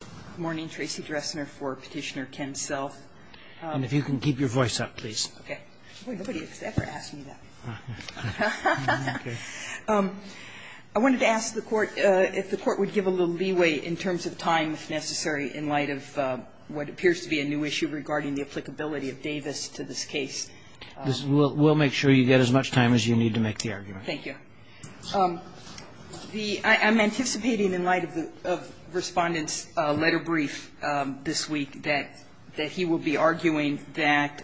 Good morning, Tracy Dressner for Petitioner Ken Self. And if you can keep your voice up, please. Okay. Nobody has ever asked me that. I wanted to ask the Court if the Court would give a little leeway in terms of time, if necessary, in light of what appears to be a new issue regarding the applicability of Davis to this case. We'll make sure you get as much time as you need to make the argument. Thank you. I'm anticipating in light of Respondent's letter brief this week that he will be arguing that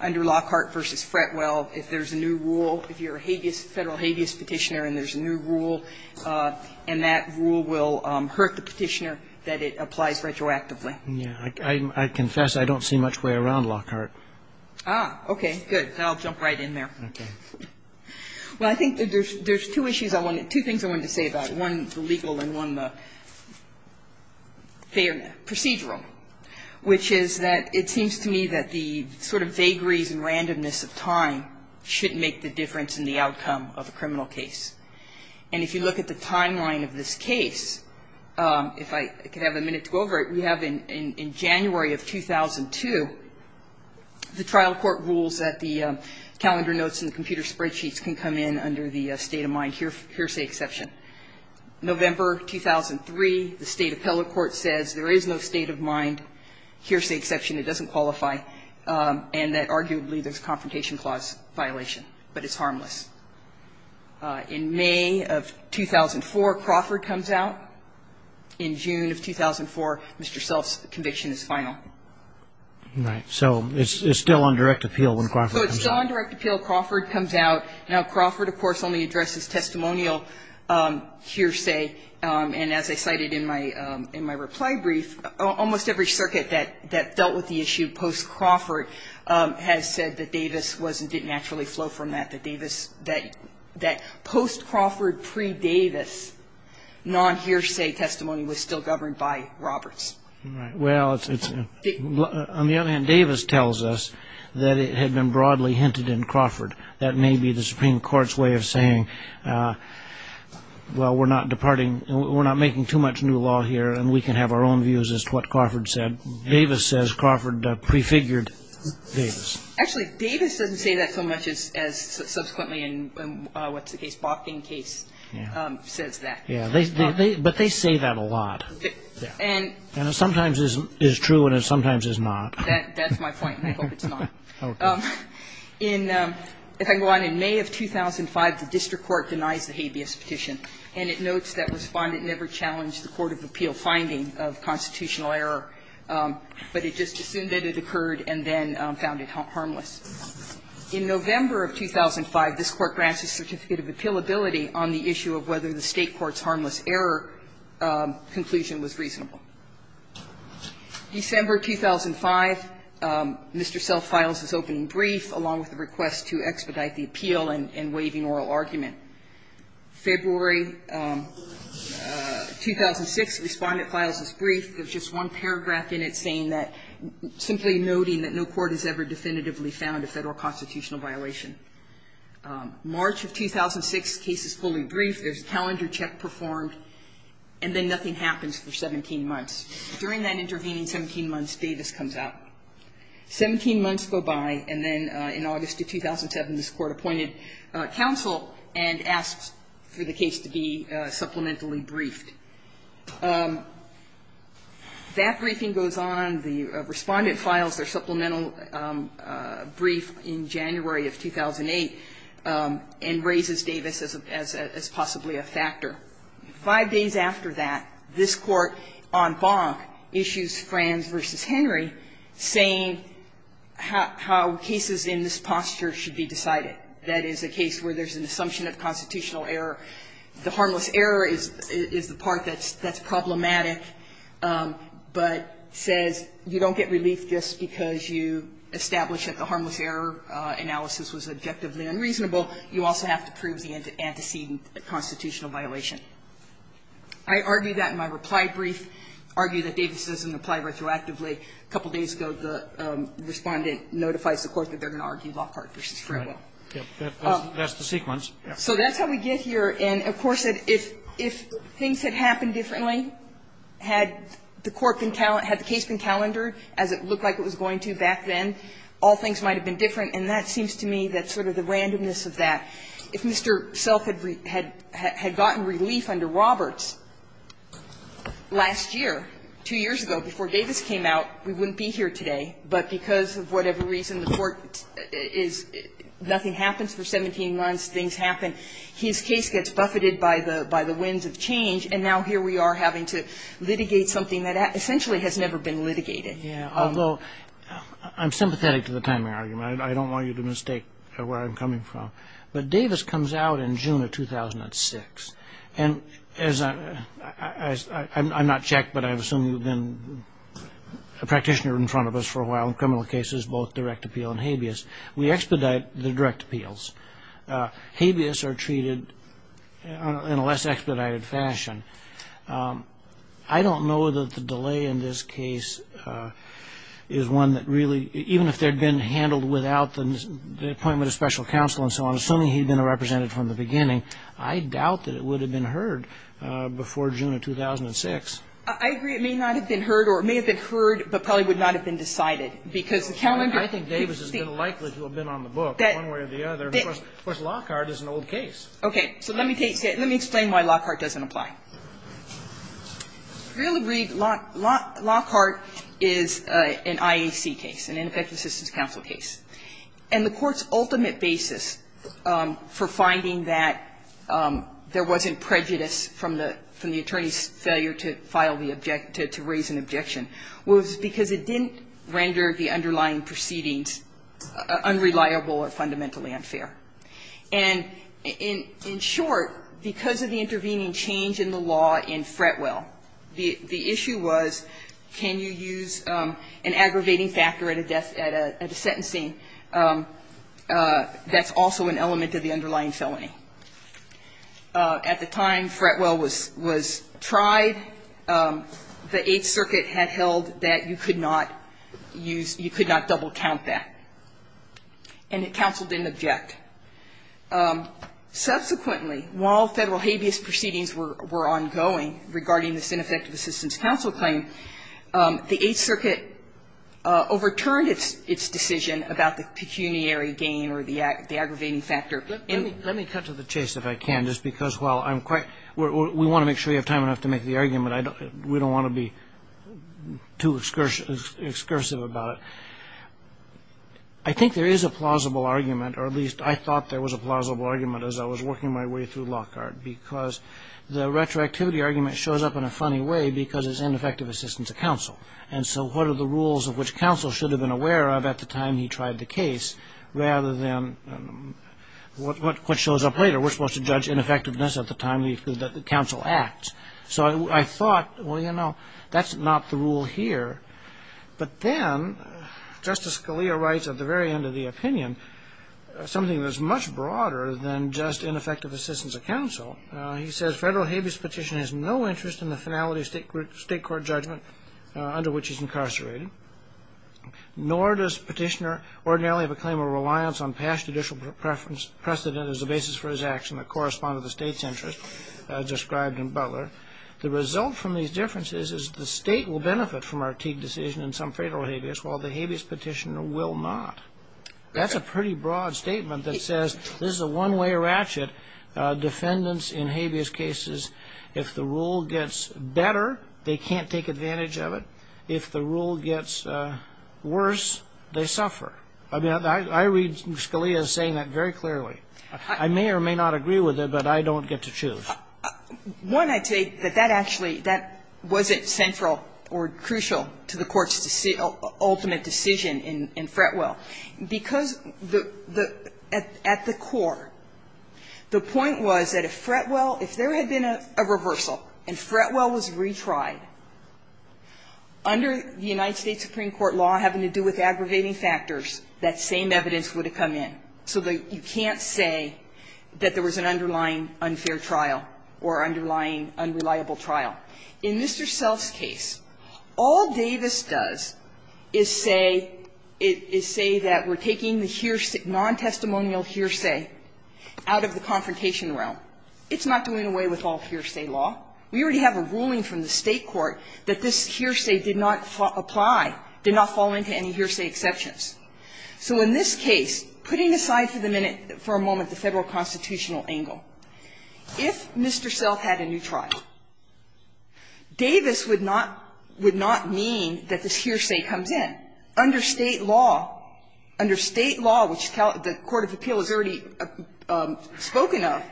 under Lockhart v. Fretwell, if there's a new rule, if you're a federal habeas petitioner and there's a new rule, and that rule will hurt the petitioner, that it applies retroactively. I confess I don't see much way around Lockhart. Okay. Good. I'll jump right in there. Okay. Well, I think there's two issues I wanted to say about, one the legal and one the procedural, which is that it seems to me that the sort of vagaries and randomness of time should make the difference in the outcome of a criminal case. And if you look at the timeline of this case, if I could have a minute to go over it, we have in January of 2002, the trial court rules that the calendar notes and the computer spreadsheets can come in under the state-of-mind hearsay exception. November 2003, the State Appellate Court says there is no state-of-mind hearsay exception. It doesn't qualify. And that arguably there's a confrontation clause violation, but it's harmless. In May of 2004, Crawford comes out. In June of 2004, Mr. Self's conviction is final. Right. So it's still on direct appeal when Crawford comes out. So it's still on direct appeal when Crawford comes out. Now, Crawford, of course, only addresses testimonial hearsay. And as I cited in my reply brief, almost every circuit that dealt with the issue post-Crawford has said that Davis wasn't, didn't actually flow from that, that post-Crawford, pre-Davis non-hearsay testimony was still governed by Roberts. Well, on the other hand, Davis tells us that it had been broadly hinted in Crawford. That may be the Supreme Court's way of saying, well, we're not departing, we're not making too much new law here, and we can have our own views as to what Crawford said. Davis says Crawford prefigured Davis. Actually, Davis doesn't say that so much as subsequently in, what's the case, Botkin case, says that. Yeah. But they say that a lot. And it sometimes is true and it sometimes is not. That's my point, and I hope it's not. Okay. In, if I can go on, in May of 2005, the district court denies the habeas petition. And it notes that Respondent never challenged the court of appeal finding of constitutional error, but it just assumed that it occurred and then found it harmless. In November of 2005, this Court grants a certificate of appealability on the issue of whether the State court's harmless error conclusion was reasonable. December 2005, Mr. Self files his opening brief, along with a request to expedite the appeal and waiving oral argument. February 2006, Respondent files his brief. There's just one paragraph in it saying that, simply noting that no court has ever definitively found a Federal constitutional violation. March of 2006, case is fully briefed. There's a calendar check performed. And then nothing happens for 17 months. During that intervening 17 months, Davis comes out. Seventeen months go by, and then in August of 2007, this Court appointed counsel and asks for the case to be supplementally briefed. That briefing goes on. The Respondent files their supplemental brief in January of 2008 and raises Davis as possibly a factor. Five days after that, this Court, en banc, issues Frans v. Henry, saying how cases in this posture should be decided. That is, a case where there's an assumption of constitutional error. The harmless error is the part that's problematic, but says you don't get relief just because you established that the harmless error analysis was objectively unreasonable. You also have to prove the antecedent constitutional violation. I argue that in my reply brief, argue that Davis doesn't apply retroactively. A couple of days ago, the Respondent notifies the Court that they're going to argue Lockhart v. Fredwell. Roberts, that's the sequence. So that's how we get here. And, of course, if things had happened differently, had the Court been cal – had the case been calendared as it looked like it was going to back then, all things might have been different, and that seems to me that's sort of the randomness of that. If Mr. Self had gotten relief under Roberts last year, two years ago, before Davis came out, we wouldn't be here today. But because of whatever reason, the Court is – nothing happens for 17 months. Things happen. His case gets buffeted by the winds of change, and now here we are having to litigate something that essentially has never been litigated. Yeah, although I'm sympathetic to the timing argument. I don't want you to mistake where I'm coming from. But Davis comes out in June of 2006. And as – I'm not checked, but I assume you've been a practitioner in front of us for a while in criminal cases, both direct appeal and habeas. We expedite the direct appeals. Habeas are treated in a less expedited fashion. I don't know that the delay in this case is one that really – even if there had been handled without the appointment of special counsel and so on, assuming he had been represented from the beginning, I doubt that it would have been heard before June of 2006. I agree. It may not have been heard, or it may have been heard, but probably would not have been decided, because the calendar – I think Davis has been likely to have been on the book, one way or the other. Of course, Lockhart is an old case. Okay. So let me take – let me explain why Lockhart doesn't apply. If you really read – Lockhart is an IAC case, an Ineffective Assistance Counsel case. And the Court's ultimate basis for finding that there wasn't prejudice from the attorney's failure to file the – to raise an objection was because it didn't render the underlying proceedings unreliable or fundamentally unfair. And in short, because of the intervening change in the law in Fretwell, the issue was can you use an aggravating factor at a death – at a sentencing that's also an element of the underlying felony. At the time Fretwell was tried, the Eighth Circuit had held that you could not use – you could not double-count that. And the counsel didn't object. Subsequently, while Federal habeas proceedings were ongoing regarding this Ineffective Assistance Counsel claim, the Eighth Circuit overturned its decision about the pecuniary gain or the aggravating factor. And – Let me cut to the chase, if I can, just because while I'm quite – we want to make sure you have time enough to make the argument. I don't – we don't want to be too excursive about it. I think there is a plausible argument, or at least I thought there was a plausible argument as I was working my way through Lockhart, because the retroactivity argument shows up in a funny way because it's Ineffective Assistance Counsel. And so what are the rules of which counsel should have been aware of at the time he tried the case rather than what shows up later? We're supposed to judge ineffectiveness at the time that the counsel acts. So I thought, well, you know, that's not the rule here. But then Justice Scalia writes at the very end of the opinion something that's much broader than just Ineffective Assistance of Counsel. He says, Federal habeas petition has no interest in the finality of state court judgment under which he's incarcerated, nor does petitioner ordinarily have a claim or reliance on past judicial precedent as a basis for his action that correspond to the state's interest described in Butler. The result from these differences is the state will benefit from our Teague decision in some federal habeas while the habeas petitioner will not. That's a pretty broad statement that says this is a one-way ratchet. Defendants in habeas cases, if the rule gets better, they can't take advantage of it. If the rule gets worse, they suffer. I mean, I read Scalia saying that very clearly. I may or may not agree with it, but I don't get to choose. One, I take that that actually, that wasn't central or crucial to the Court's ultimate decision in Fretwell, because the at the court, the point was that if Fretwell, if there had been a reversal and Fretwell was retried, under the United States Supreme Court law having to do with aggravating factors, that same evidence would come in, so that you can't say that there was an underlying unfair trial or underlying unreliable trial. In Mr. Self's case, all Davis does is say, is say that we're taking the non-testimonial hearsay out of the confrontation realm. It's not doing away with all hearsay law. We already have a ruling from the State court that this hearsay did not apply, did not fall into any hearsay exceptions. So in this case, putting aside for the minute, for a moment, the Federal constitutional angle, if Mr. Self had a new trial, Davis would not, would not mean that this hearsay comes in. Under State law, under State law, which the court of appeal has already spoken of,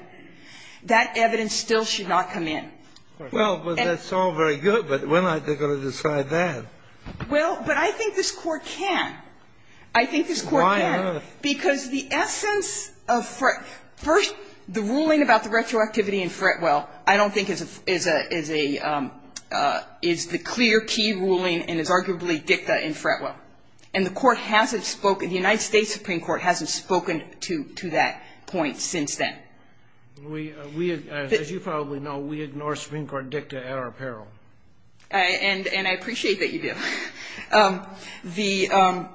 that evidence still should not come in. Well, but that's all very good, but we're not going to decide that. Well, but I think this Court can. I think this Court can. Why on earth? Because the essence of Fretwell, first, the ruling about the retroactivity in Fretwell, I don't think is a, is a, is a, is the clear key ruling and is arguably dicta in Fretwell. And the Court hasn't spoken, the United States Supreme Court hasn't spoken to, to that point since then. We, we, as you probably know, we ignore Supreme Court dicta at our peril. And, and I appreciate that you do. The,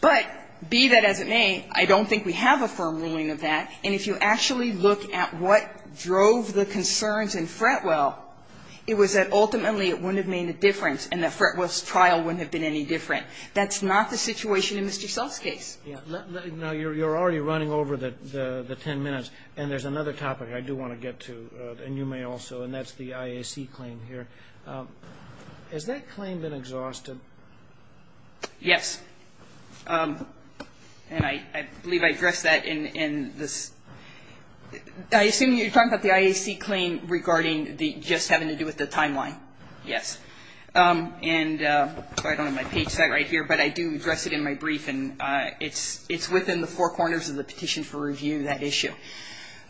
but be that as it may, I don't think we have a firm ruling of that. And if you actually look at what drove the concerns in Fretwell, it was that ultimately it wouldn't have made a difference and that Fretwell's trial wouldn't have been any different. That's not the situation in Mr. Self's case. Now, you're, you're already running over the, the ten minutes, and there's another topic I do want to get to, and you may also, and that's the IAC claim here. Has that claim been exhausted? Yes. And I, I believe I addressed that in, in this, I assume you're talking about the IAC claim regarding the, just having to do with the timeline. Yes. And I don't have my page set right here, but I do address it in my brief, and it's, it's within the four corners of the petition for review, that issue.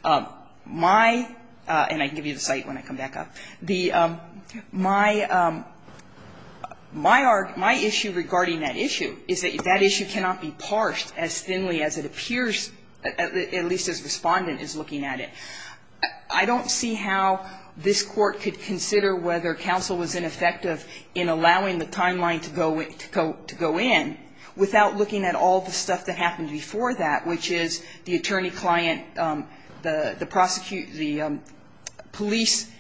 My, and I can give you the site when I come back up. The, my, my issue regarding that issue is that that issue cannot be parsed as thinly as it appears, at least as Respondent is looking at it. I don't see how this Court could consider whether counsel was ineffective in allowing the timeline to go in without looking at all the stuff that happened before that, which is the attorney-client, the, the prosecute, the police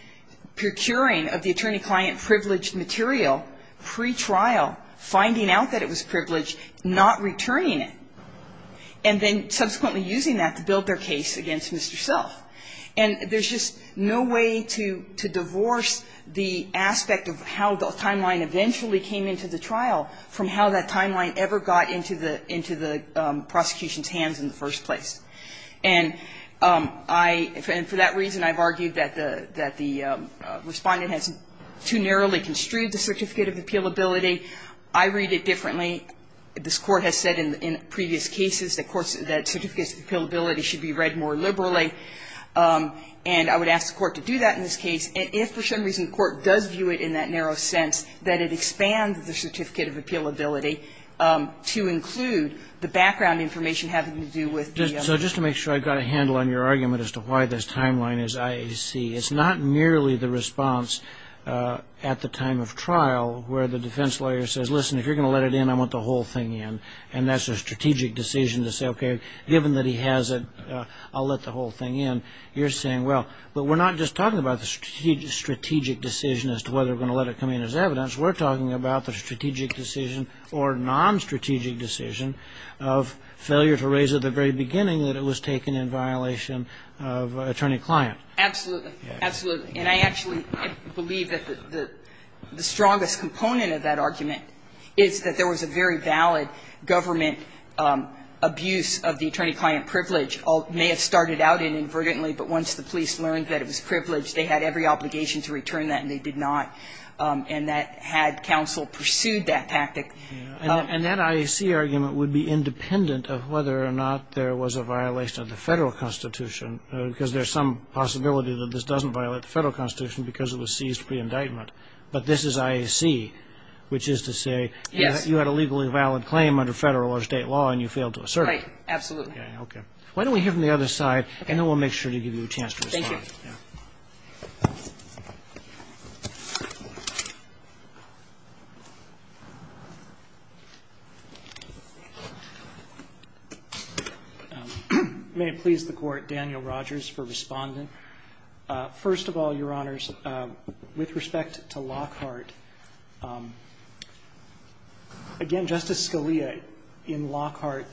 procuring of the attorney- client privileged material pre-trial, finding out that it was privileged, not returning it, and then subsequently using that to build their case against Mr. Self. And there's just no way to, to divorce the aspect of how the timeline eventually came into the trial from how that timeline ever got into the, into the prosecution's eyes in the first place. And I, and for that reason, I've argued that the, that the Respondent has too narrowly construed the Certificate of Appealability. I read it differently. This Court has said in, in previous cases that courts, that Certificates of Appealability should be read more liberally. And I would ask the Court to do that in this case. And if for some reason the Court does view it in that narrow sense, that it expands the Certificate of Appealability to include the background information having to do with the- So just to make sure I got a handle on your argument as to why this timeline is IAC. It's not merely the response at the time of trial where the defense lawyer says, listen, if you're going to let it in, I want the whole thing in. And that's a strategic decision to say, okay, given that he has it, I'll let the whole thing in. You're saying, well, but we're not just talking about the strategic decision as to whether we're going to let it come in as evidence. We're talking about the strategic decision or nonstrategic decision of failure to raise at the very beginning that it was taken in violation of attorney-client. Absolutely. Absolutely. And I actually believe that the strongest component of that argument is that there was a very valid government abuse of the attorney-client privilege. It may have started out inadvertently, but once the police learned that it was privileged, they had every obligation to return that, and they did not. And that had counsel pursued that tactic. And that IAC argument would be independent of whether or not there was a violation of the federal constitution, because there's some possibility that this doesn't violate the federal constitution because it was seized pre-indictment. But this is IAC, which is to say, you had a legally valid claim under federal or state law, and you failed to assert it. Right. Absolutely. Okay. Why don't we hear from the other side, and then we'll make sure to give you a chance to respond. Thank you. May it please the Court, Daniel Rogers for responding. First of all, Your Honors, with respect to Lockhart, again, Justice Scalia, in Lockhart,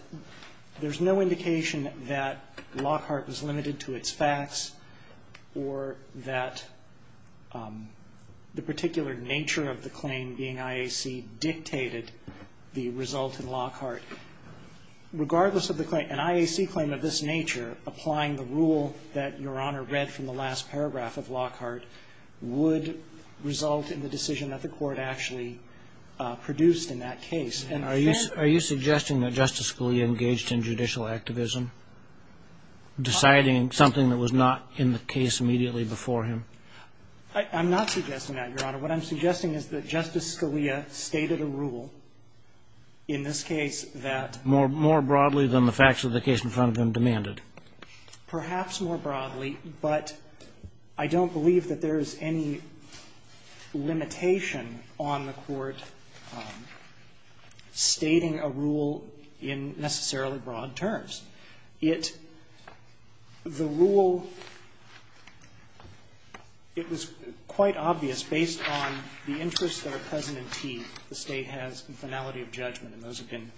there's no indication that Lockhart was limited to its facts or that the particular nature of the claim being IAC dictated the result in Lockhart. Regardless of the claim, an IAC claim of this nature, applying the rule that Your Honor read from the last paragraph of Lockhart, would result in the decision that the Court actually produced in that case. And are you suggesting that Justice Scalia engaged in judicial activism, deciding something that was not in the case immediately before him? I'm not suggesting that, Your Honor. What I'm suggesting is that Justice Scalia stated a rule in this case that More broadly than the facts of the case in front of him demanded. Perhaps more broadly, but I don't believe that there is any limitation on the Court stating a rule in necessarily broad terms. It, the rule, it was quite obvious based on the interests that are present in Teague, the State has in finality of judgment, and those have been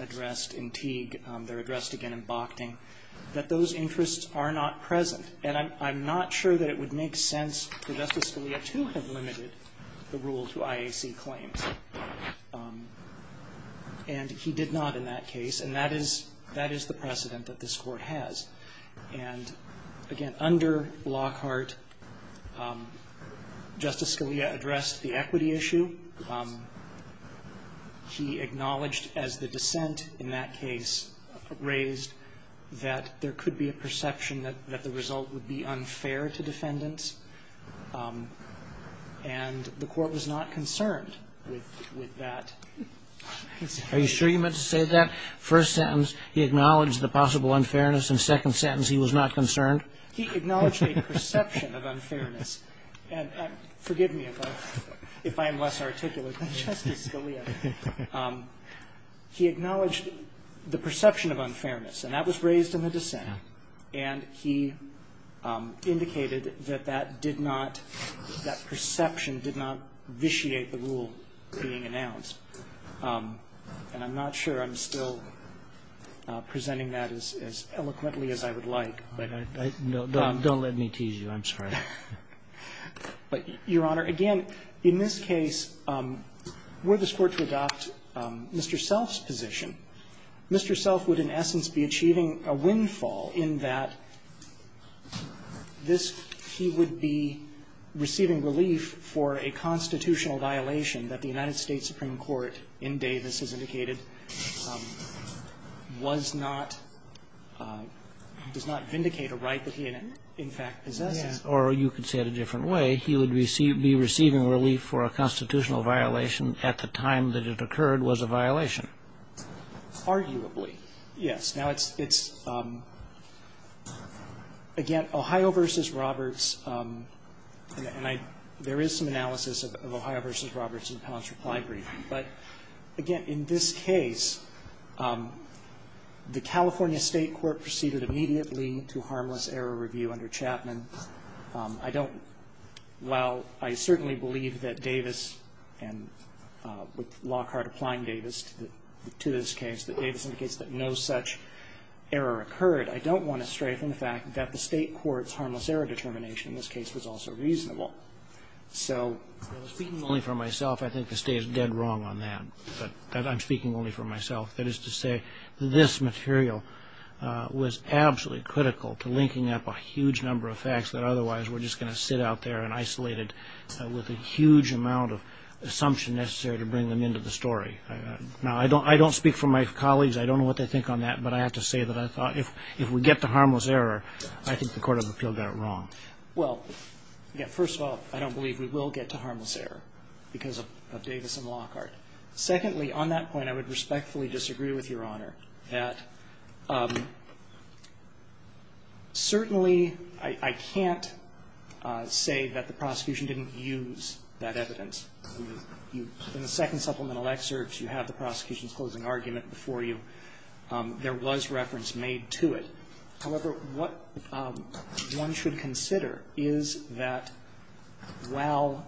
addressed in Teague. They're addressed again in Bochting, that those interests are not present. And I'm not sure that it would make sense for Justice Scalia to have limited the rule to IAC claims. And he did not in that case. And that is, that is the precedent that this Court has. And again, under Lockhart, Justice Scalia addressed the equity issue. He acknowledged as the dissent in that case raised that there could be a perception that the result would be unfair to defendants. And the Court was not concerned with that. Are you sure you meant to say that? First sentence, he acknowledged the possible unfairness, and second sentence, he was not concerned? He acknowledged a perception of unfairness. And forgive me if I'm less articulate than Justice Scalia. He acknowledged the perception of unfairness. And that was raised in the dissent. And he indicated that that did not, that perception did not vitiate the rule being announced. And I'm not sure I'm still presenting that as eloquently as I would like. No, don't let me tease you. I'm sorry. But, Your Honor, again, in this case, were this Court to adopt Mr. Self's position, Mr. Self would in essence be achieving a windfall in that this, he would be receiving relief for a constitutional violation that the United States Supreme Court in Davis has indicated was not, does not vindicate a right that he in fact possesses. Yes. Or you could say it a different way. He would be receiving relief for a constitutional violation at the time that it occurred was a violation. Arguably. Yes. Now, it's, it's, again, Ohio v. Roberts, and I, there is some analysis of Ohio v. Roberts in the panel's reply briefing. But, again, in this case, the California State Court proceeded immediately to harmless error review under Chapman. I don't, while I certainly believe that Davis and with Lockhart applying Davis to the to this case, that Davis indicates that no such error occurred, I don't want to stray from the fact that the State Court's harmless error determination in this case was also reasonable. So. Speaking only for myself, I think the State is dead wrong on that. But I'm speaking only for myself. That is to say, this material was absolutely critical to linking up a huge number of facts that otherwise were just going to sit out there and isolated with a huge amount of assumption necessary to bring them into the story. Now, I don't, I don't speak for my colleagues. I don't know what they think on that. But I have to say that I thought if, if we get to harmless error, I think the Court of Appeal got it wrong. Well, yeah, first of all, I don't believe we will get to harmless error because of Davis and Lockhart. Secondly, on that point, I would respectfully disagree with Your Honor that certainly I, I can't say that the prosecution didn't use that evidence. In the second supplemental excerpts, you have the prosecution's closing argument before you. There was reference made to it. However, what one should consider is that while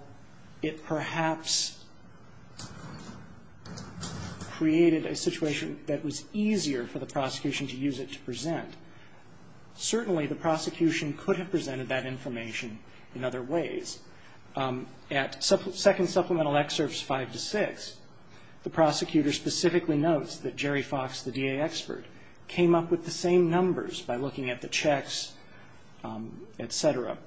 it perhaps created a situation that was easier for the prosecution to use it to present, certainly the prosecution could have presented that information in other ways. At second supplemental excerpts five to six, the prosecutor specifically notes that Jerry Fox, the DA expert, came up with the same numbers by looking at the checks, et cetera.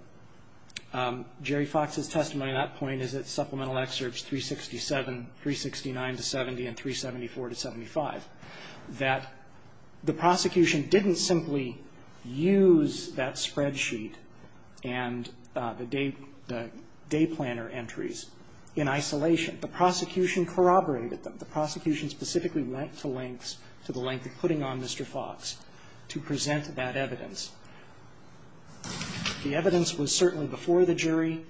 Jerry Fox's testimony on that point is at supplemental excerpts 367, 369 to 70, and 374 to 75, that the prosecution didn't simply use that spreadsheet and the day planner entries in isolation. The prosecution corroborated them. The prosecution specifically went to lengths, to the length of putting on Mr. Fox to present that evidence. The evidence was certainly before the jury,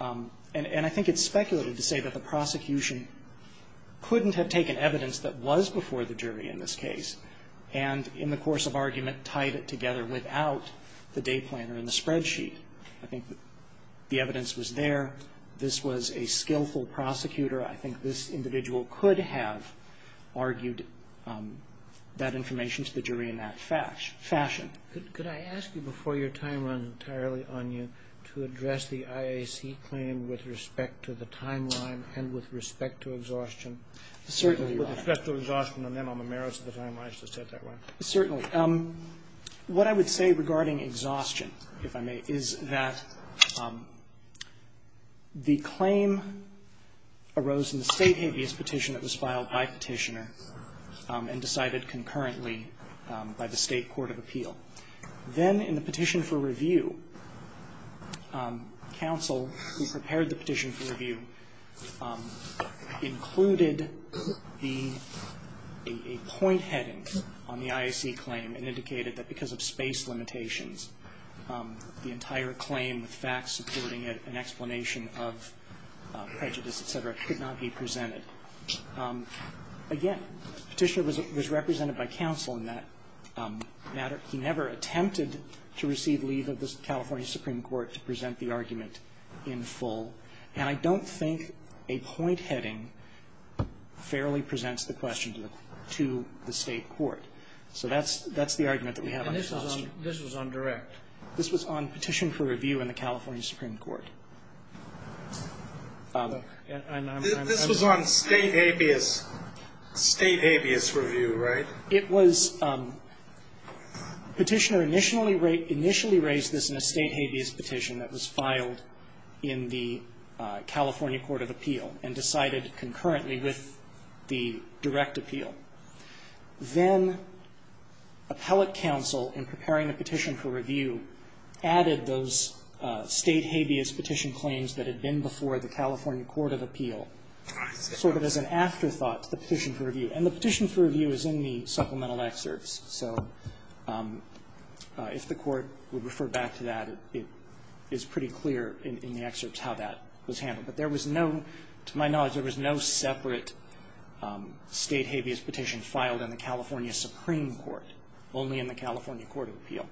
and I think it's speculative to say that the prosecution couldn't have taken evidence that was before the jury in this case and in the course of argument tied it together without the day planner and the spreadsheet. I think the evidence was there. This was a skillful prosecutor. I think this individual could have argued that information to the jury in that fashion. Could I ask you before your time runs entirely on you to address the IAC claim with respect to the timeline and with respect to exhaustion? Certainly, Your Honor. With respect to exhaustion and then on the merits of the timeline. I should have said that, right? Certainly. What I would say regarding exhaustion, if I may, is that the claim arose in the state habeas petition that was filed by petitioner and decided concurrently by the state court of appeal. Then in the petition for review, counsel who prepared the petition for review included a point heading on the IAC claim and indicated that because of space limitations, the entire claim with facts supporting an explanation of prejudice, et cetera, could not be presented. Again, petitioner was represented by counsel in that matter. He never attempted to receive leave of the California Supreme Court to present the argument in full. And I don't think a point heading fairly presents the question to the state court. So that's the argument that we have on exhaustion. And this was on direct? This was on petition for review in the California Supreme Court. This was on state habeas review, right? It was. Petitioner initially raised this in a state habeas petition that was filed in the California court of appeal and decided concurrently with the direct appeal. Then appellate counsel, in preparing a petition for review, added those state habeas petition claims that had been before the California court of appeal sort of as an afterthought to the petition for review. And the petition for review is in the supplemental excerpts. So if the Court would refer back to that, it is pretty clear in the excerpts how that was handled. But there was no, to my knowledge, there was no separate state habeas petition filed in the California Supreme Court, only in the California court of appeal.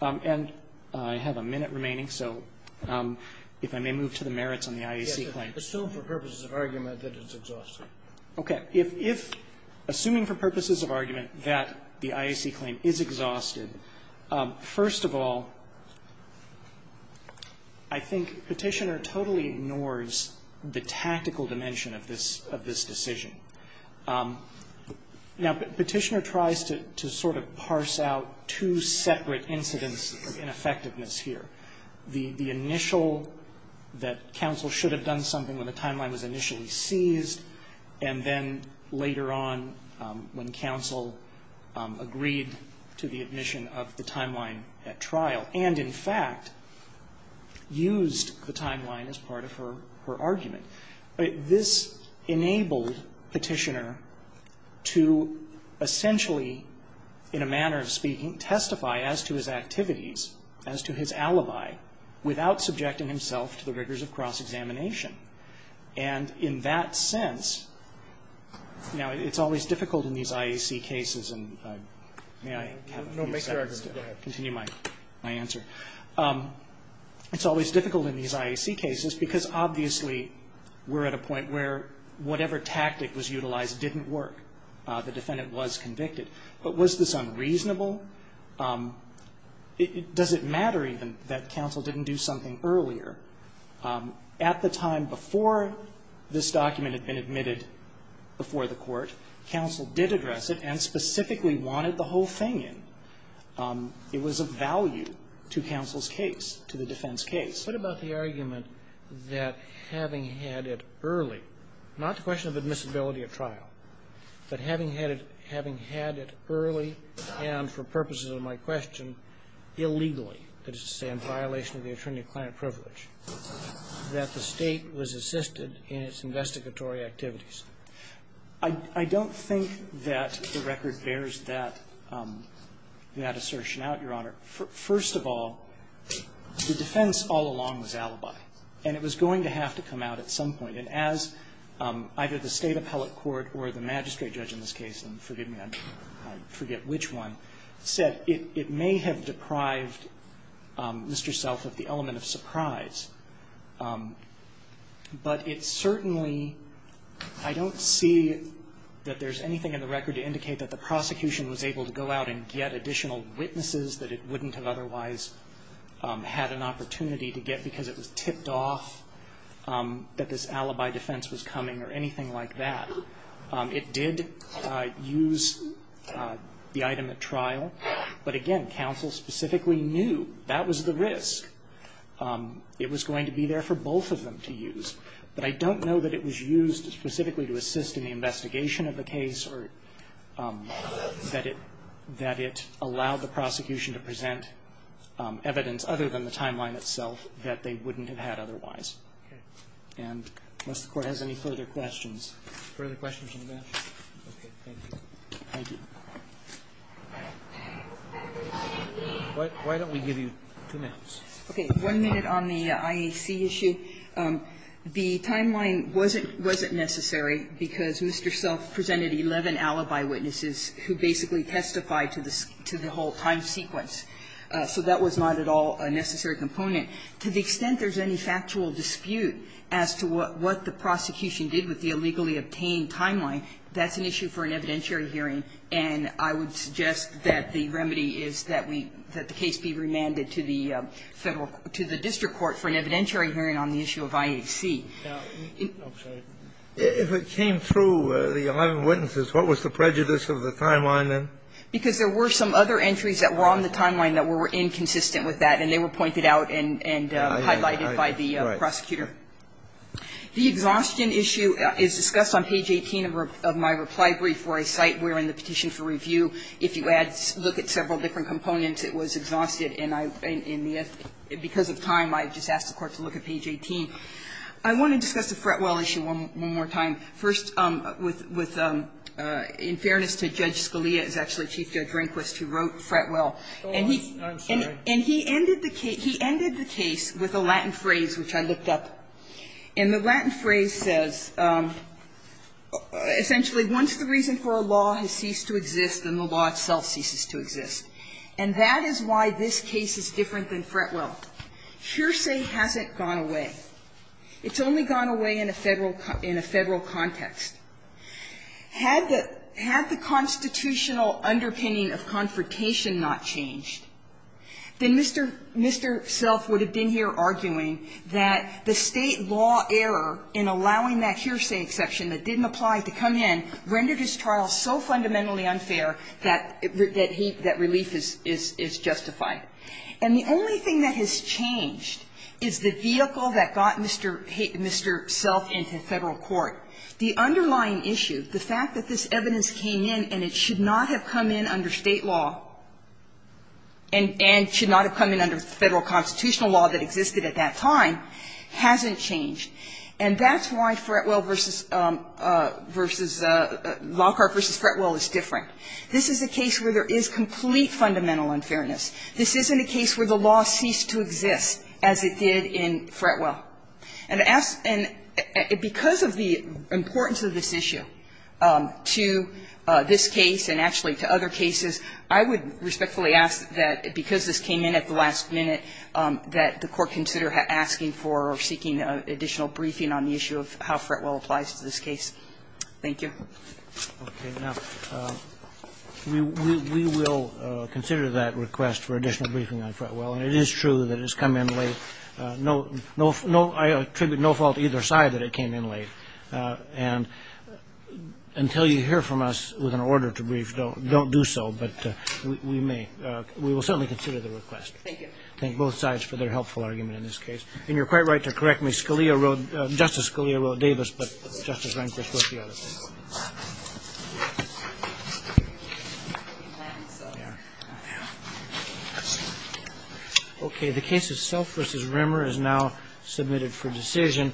And I have a minute remaining, so if I may move to the merits on the IAC claim. Assume for purposes of argument that it's exhausted. Okay. If assuming for purposes of argument that the IAC claim is exhausted, first of all, I think Petitioner totally ignores the tactical dimension of this decision. Now, Petitioner tries to sort of parse out two separate incidents of ineffectiveness here, the initial that counsel should have done something when the timeline was initially seized, and then later on when counsel agreed to the admission of the timeline at trial, and in fact used the timeline as part of her argument. This enabled Petitioner to essentially, in a manner of speaking, testify as to his activities, as to his alibi, without subjecting himself to the rigors of cross-examination. And in that sense, you know, it's always difficult in these IAC cases, and may I have a few seconds to continue my answer? It's always difficult in these IAC cases because obviously we're at a point where whatever tactic was utilized didn't work. The defendant was convicted. But was this unreasonable? Does it matter even that counsel didn't do something earlier? At the time before this document had been admitted before the Court, counsel did address it and specifically wanted the whole thing in. It was of value to counsel's case, to the defense case. What about the argument that having had it early, not the question of admissibility at trial, but having had it early and, for purposes of my question, illegally, that is to say in violation of the attorney-client privilege, that the State was assisted in its investigatory activities? I don't think that the record bears that assertion out, Your Honor. First of all, the defense all along was alibi. And it was going to have to come out at some point. And as either the State appellate court or the magistrate judge in this case, and Mr. Self of the element of surprise. But it certainly, I don't see that there's anything in the record to indicate that the prosecution was able to go out and get additional witnesses that it wouldn't have otherwise had an opportunity to get because it was tipped off that this alibi defense was coming or anything like that. It did use the item at trial. But again, counsel specifically knew that was the risk. It was going to be there for both of them to use. But I don't know that it was used specifically to assist in the investigation of the case or that it allowed the prosecution to present evidence other than the timeline itself that they wouldn't have had otherwise. And unless the Court has any further questions. Further questions from the bench? Okay, thank you. Thank you. Why don't we give you two minutes? Okay. One minute on the IAC issue. The timeline wasn't necessary because Mr. Self presented 11 alibi witnesses who basically testified to the whole time sequence. So that was not at all a necessary component. To the extent there's any factual dispute as to what the prosecution did with the illegally obtained timeline, that's an issue for an evidentiary hearing. And I would suggest that the remedy is that the case be remanded to the district court for an evidentiary hearing on the issue of IAC. If it came through the 11 witnesses, what was the prejudice of the timeline then? Because there were some other entries that were on the timeline that were inconsistent with that, and they were pointed out and highlighted by the prosecutor. The exhaustion issue is discussed on page 18 of my reply brief for a site wherein the petition for review, if you add, look at several different components, it was exhausted. And I, because of time, I just asked the Court to look at page 18. I want to discuss the Fretwell issue one more time. First, with, in fairness to Judge Scalia, it's actually Chief Judge Rehnquist who wrote Fretwell. And he ended the case with a Latin phrase, which I looked up. And the Latin phrase says, essentially, once the reason for a law has ceased to exist, then the law itself ceases to exist. And that is why this case is different than Fretwell. Hearsay hasn't gone away. It's only gone away in a Federal, in a Federal context. Had the, had the constitutional underpinning of confrontation not changed, then Mr. Self would have been here arguing that the State law error in allowing that hearsay exception that didn't apply to come in rendered his trial so fundamentally unfair that he, that relief is justified. And the only thing that has changed is the vehicle that got Mr. Self into Federal court. The underlying issue, the fact that this evidence came in and it should not have come in under State law and, and should not have come in under Federal constitutional law that existed at that time hasn't changed. And that's why Fretwell versus, versus Lockhart versus Fretwell is different. This is a case where there is complete fundamental unfairness. This isn't a case where the law ceased to exist, as it did in Fretwell. And because of the importance of this issue to this case and actually to other cases, I would respectfully ask that, because this came in at the last minute, that the Court consider asking for or seeking additional briefing on the issue of how Fretwell applies to this case. Thank you. Roberts. We will consider that request for additional briefing on Fretwell. And it is true that it's come in late. No, no, no, I attribute no fault to either side that it came in late. And until you hear from us with an order to brief, don't, don't do so. But we may, we will certainly consider the request. Thank you. Thank both sides for their helpful argument in this case. And you're quite right to correct me. Scalia wrote, Justice Scalia wrote Davis, but Justice Rehnquist wrote the other thing. Okay. The case itself versus Rimmer is now submitted for decision.